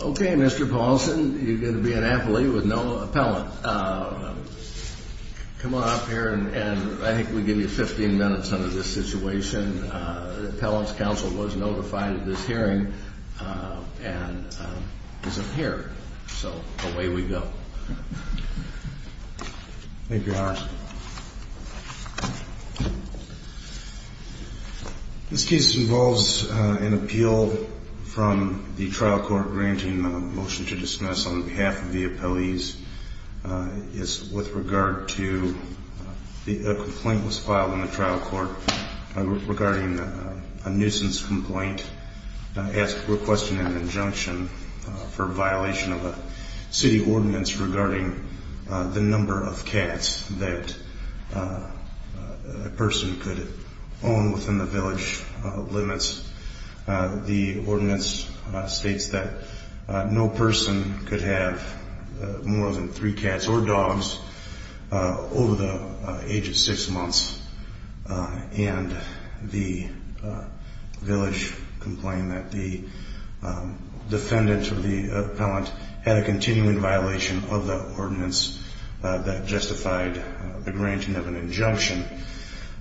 Okay, Mr. Paulson, you're going to be an appellee with no appellant. Come on up here and I think we give you 15 minutes under this situation. Appellant's counsel was notified of this hearing and isn't here. So away we go. Thank you, Your Honor. This case involves an appeal from the trial court granting a motion to dismiss on behalf of the appellees. A complaint was filed in the trial court regarding a nuisance complaint requesting an injunction for violation of a city ordinance regarding the number of cats that a person could own within the village limits. The ordinance states that no person could have more than three cats or dogs over the age of six months and the village complained that the defendant or the appellant had a continuing violation of the ordinance that justified the granting of an injunction.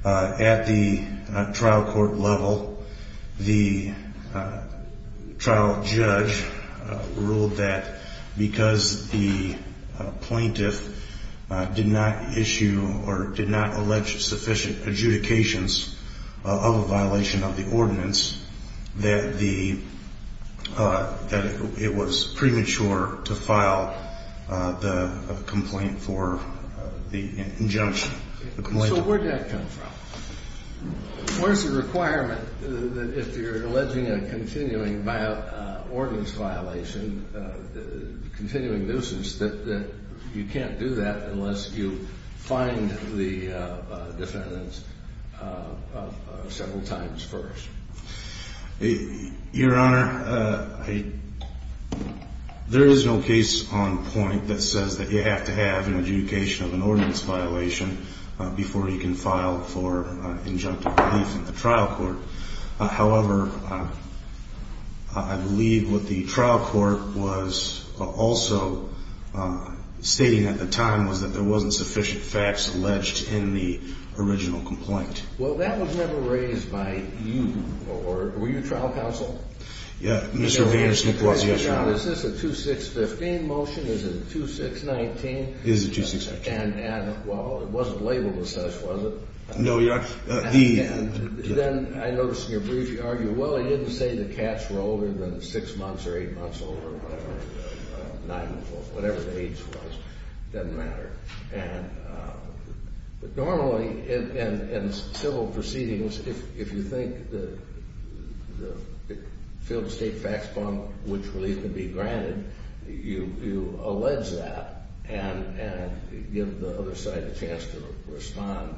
At the trial court level, the trial judge ruled that because the plaintiff did not issue or did not allege sufficient adjudications of a violation of the ordinance, that it was premature to file the complaint for the injunction. So where did that come from? Where's the requirement that if you're alleging a continuing ordinance violation, continuing nuisance, that you can't do that unless you find the defendant several times first? Your Honor, there is no case on point that says that you have to have an adjudication of an ordinance violation before you can file for injunctive relief at the trial court. However, I believe what the trial court was also stating at the time was that there wasn't sufficient facts alleged in the original complaint. Well, that was never raised by you. Were you a trial counsel? Yeah. Mr. Vaynerchuk was, yes, Your Honor. Is this a 2-6-15 motion? Is it a 2-6-19? It is a 2-6-19. And, well, it wasn't labeled as such, was it? No, Your Honor. And then I noticed in your brief you argue, well, it didn't say the cats were older than six months or eight months old or whatever the age was. It doesn't matter. But normally in civil proceedings, if you think the field-to-state facts bond, which relief can be granted, you allege that and give the other side a chance to respond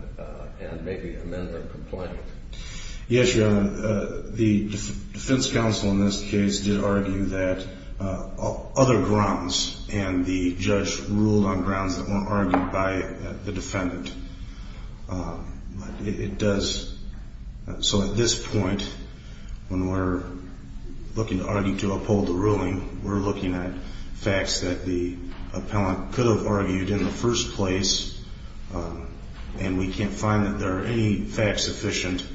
and maybe amend their complaint. Yes, Your Honor. The defense counsel in this case did argue that other grounds and the judge ruled on grounds that weren't argued by the defendant. It does. So at this point, when we're looking to argue to uphold the ruling, we're looking at facts that the appellant could have argued in the first place, and we can't find that there are any facts sufficient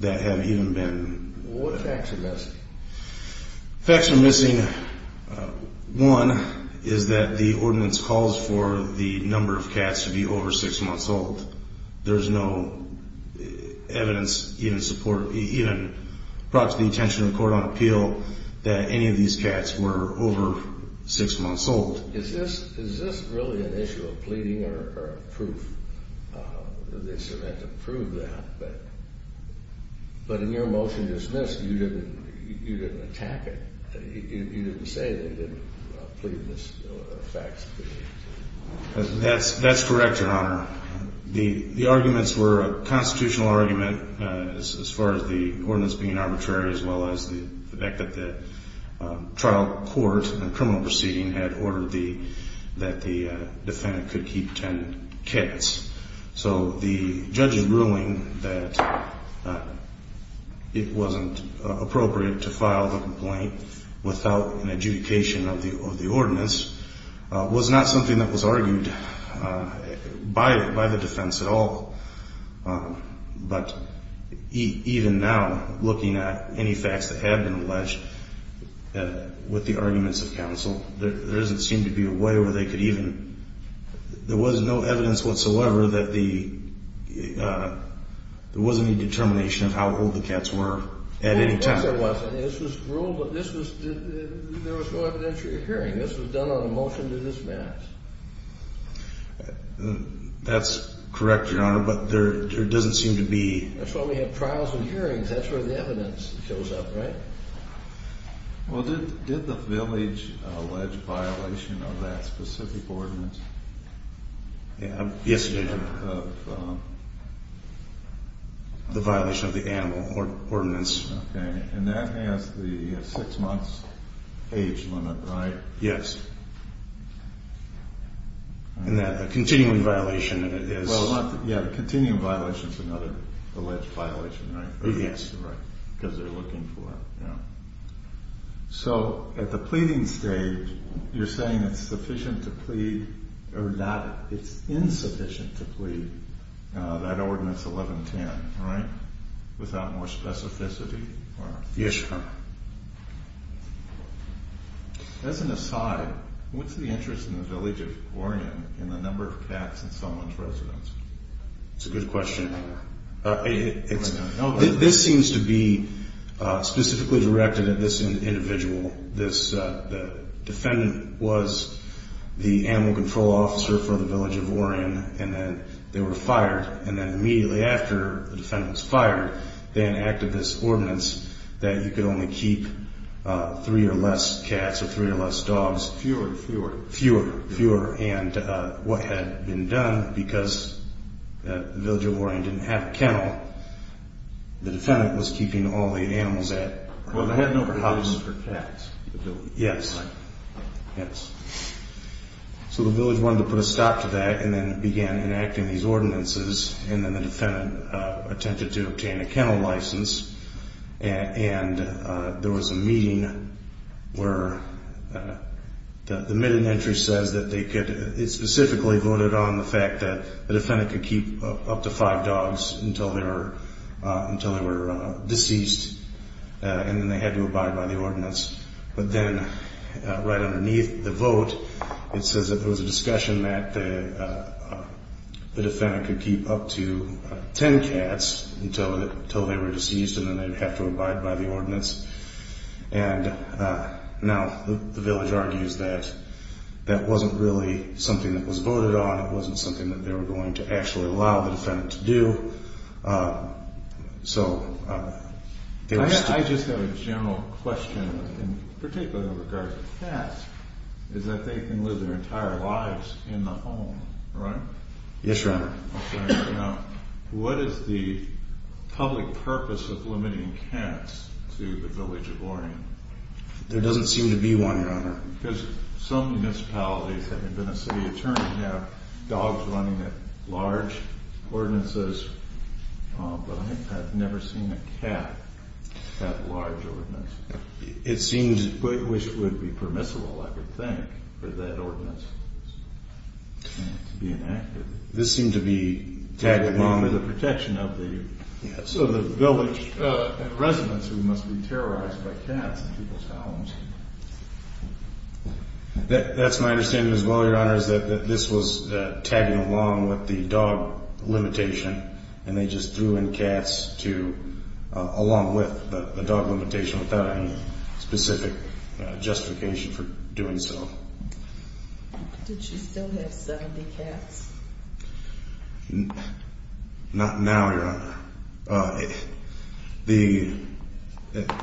that have even been... What facts are missing? Facts are missing, one, is that the ordinance calls for the number of cats to be over six months old. There's no evidence, even support, even brought to the attention of the court on appeal that any of these cats were over six months old. Is this really an issue of pleading or proof? They sort of had to prove that. But in your motion to dismiss, you didn't attack it. You didn't say they didn't plead this fact. That's correct, Your Honor. The arguments were a constitutional argument as far as the ordinance being arbitrary as well as the fact that the trial court and criminal proceeding had ordered that the defendant could keep 10 cats. So the judge's ruling that it wasn't appropriate to file the complaint without an adjudication of the ordinance was not something that was argued by the defense at all. But even now, looking at any facts that have been alleged with the arguments of counsel, there doesn't seem to be a way where they could even... There was no evidence whatsoever that there wasn't any determination of how old the cats were at any time. Yes, there was. This was ruled, but there was no evidentiary hearing. This was done on a motion to dismiss. That's correct, Your Honor, but there doesn't seem to be... That's why we have trials and hearings. That's where the evidence shows up, right? Well, did the village allege violation of that specific ordinance? Yes, ma'am. The violation of the animal ordinance, and that has the six months age limit, right? Yes. And that's a continuing violation, and it is... Well, yeah, a continuing violation is another alleged violation, right? Yes. Because they're looking for... Yeah. So at the pleading stage, you're saying it's insufficient to plead that ordinance 1110, right? Without more specificity? Yes, Your Honor. As an aside, what's the interest in the village of Orion in the number of cats in someone's residence? That's a good question. This seems to be specifically directed at this individual. The defendant was the animal control officer for the village of Orion, and then they were fired. And then immediately after the defendant was fired, they enacted this ordinance that you could only keep three or less cats or three or less dogs. Fewer, fewer. Fewer, fewer. And what had been done, because the village of Orion didn't have a kennel, the defendant was keeping all the animals at... Well, they had an overhouse for cats in the village. Yes. Yes. So the village wanted to put a stop to that and then began enacting these ordinances, and then the defendant attempted to obtain a kennel license. And there was a meeting where the midden entry says that they could... It specifically voted on the fact that the defendant could keep up to five dogs until they were deceased, and then they had to abide by the ordinance. But then right underneath the vote, it says that there was a discussion that the defendant could keep up to ten cats until they were deceased, and then they'd have to abide by the ordinance. And now the village argues that that wasn't really something that was voted on. It wasn't something that they were going to actually allow the defendant to do. So... I just have a general question in particular in regards to cats, is that they can live their entire lives in the home, right? Yes, Your Honor. Okay. Now, what is the public purpose of limiting cats to the village of Orion? There doesn't seem to be one, Your Honor. Because some municipalities, having been a city attorney, have dogs running at large ordinances, but I've never seen a cat at a large ordinance. It seems... Which would be permissible, I would think, for that ordinance to be enacted. This seemed to be tagged along... That's my understanding as well, Your Honor, is that this was tagged along with the dog limitation. And they just threw in cats along with the dog limitation without any specific justification for doing so. Did she still have 70 cats? Not now, Your Honor. The...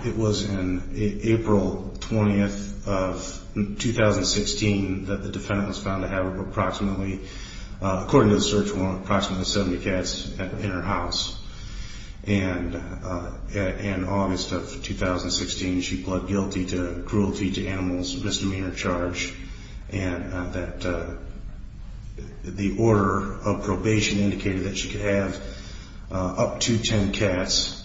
It was in April 20th of 2016 that the defendant was found to have approximately... According to the search warrant, approximately 70 cats in her house. And in August of 2016, she pled guilty to cruelty to animals misdemeanor charge. And that the order of probation indicated that she could have up to 10 cats.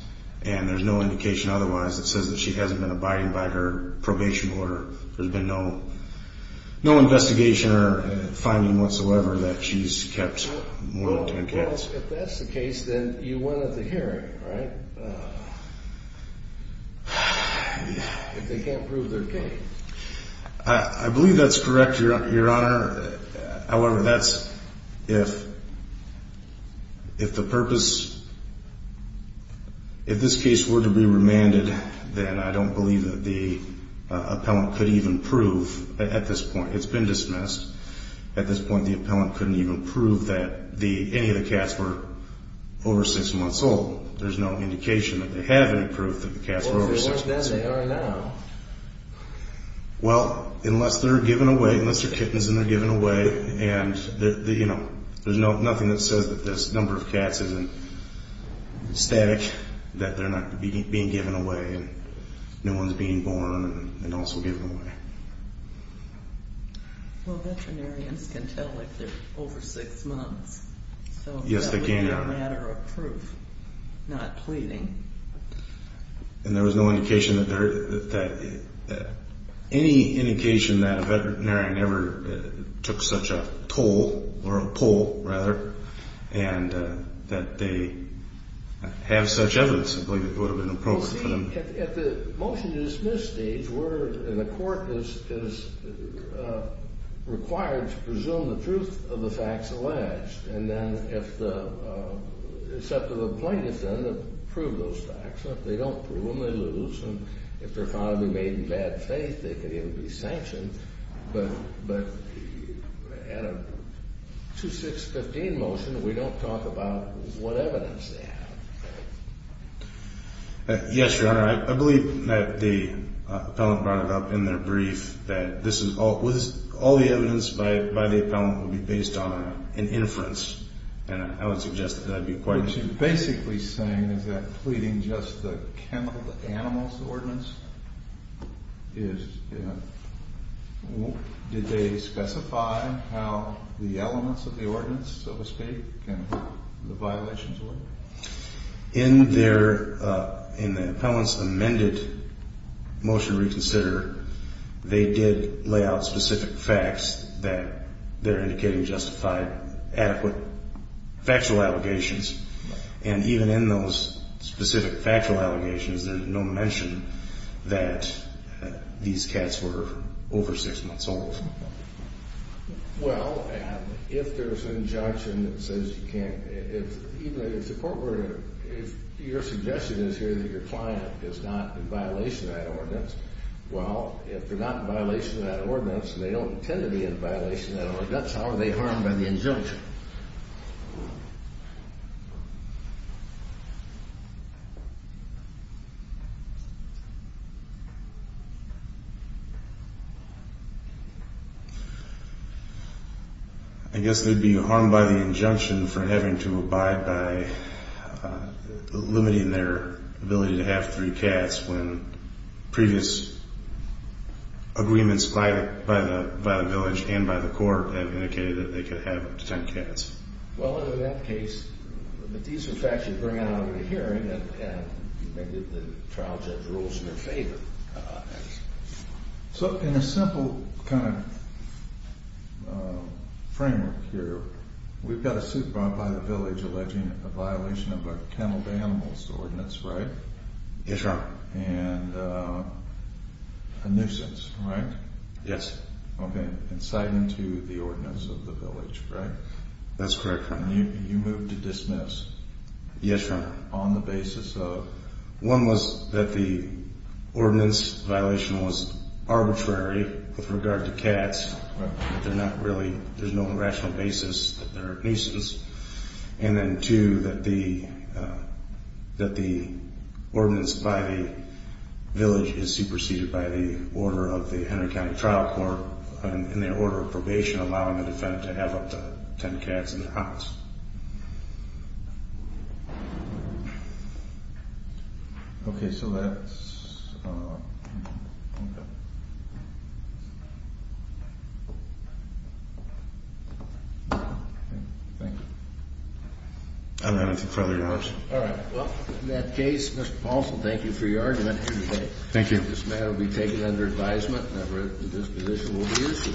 And there's no indication otherwise that says that she hasn't been abiding by her probation order. There's been no investigation or finding whatsoever that she's kept more than 10 cats. Well, if that's the case, then you went at the hearing, right? If they can't prove their case. I believe that's correct, Your Honor. However, that's if... If the purpose... If this case were to be remanded, then I don't believe that the appellant could even prove... At this point, it's been dismissed. At this point, the appellant couldn't even prove that any of the cats were over six months old. There's no indication that they have any proof that the cats were over six months old. If they weren't then, they are now. Well, unless they're given away. Unless they're kittens and they're given away. And, you know, there's nothing that says that this number of cats isn't static. That they're not being given away and no one's being born and also given away. Well, veterinarians can tell if they're over six months. Yes, they can. So that would be a matter of proof, not pleading. And there was no indication that there... Any indication that a veterinarian ever took such a toll, or a pull, rather, and that they have such evidence, I believe it would have been appropriate for them... Well, see, at the motion to dismiss stage, we're... And the court is required to presume the truth of the facts alleged. And then if the... It's up to the plaintiff then to prove those facts. If they don't prove them, they lose. And if they're found to be made in bad faith, they could even be sanctioned. But at a 2-6-15 motion, we don't talk about what evidence they have. Yes, Your Honor. I believe that the appellant brought it up in their brief that this is all... This, by the appellant, would be based on an inference. And I would suggest that that would be quite... What you're basically saying is that pleading just the animals, the ordinance, is... Did they specify how the elements of the ordinance, so to speak, and the violations were? In their... Motion to reconsider, they did lay out specific facts that they're indicating justified adequate factual allegations. And even in those specific factual allegations, there's no mention that these cats were over 6 months old. Well, if there's an injunction that says you can't... Even if the court were to... If your suggestion is here that your client is not in violation of that ordinance, well, if they're not in violation of that ordinance and they don't intend to be in violation of that ordinance, I guess they'd be harmed by the injunction for having to abide by limiting their ability to have three cats when previous agreements by the village and by the court have indicated that they could have up to 10 cats. Well, in that case, these are facts you bring out of the hearing and maybe the trial judge rules in their favor. So, in a simple kind of framework here, we've got a suit brought by the village alleging a violation of a kenneled animals ordinance, right? Yes, sir. And a nuisance, right? Yes. Okay, inciting to the ordinance of the village, right? That's correct, Your Honor. You moved to dismiss. Yes, Your Honor. On the basis of... One was that the ordinance violation was arbitrary with regard to cats. They're not really... There's no rational basis that they're a nuisance. And then two, that the ordinance by the village is superseded by the order of the Henry County Trial Court in their order of probation allowing the defendant to have up to 10 cats in their house. Okay, so that's... Thank you. I don't have anything further to add, Your Honor. All right. Well, in that case, Mr. Paulson, thank you for your argument today. Thank you. This matter will be taken under advisement, and I've read that this position will be issued.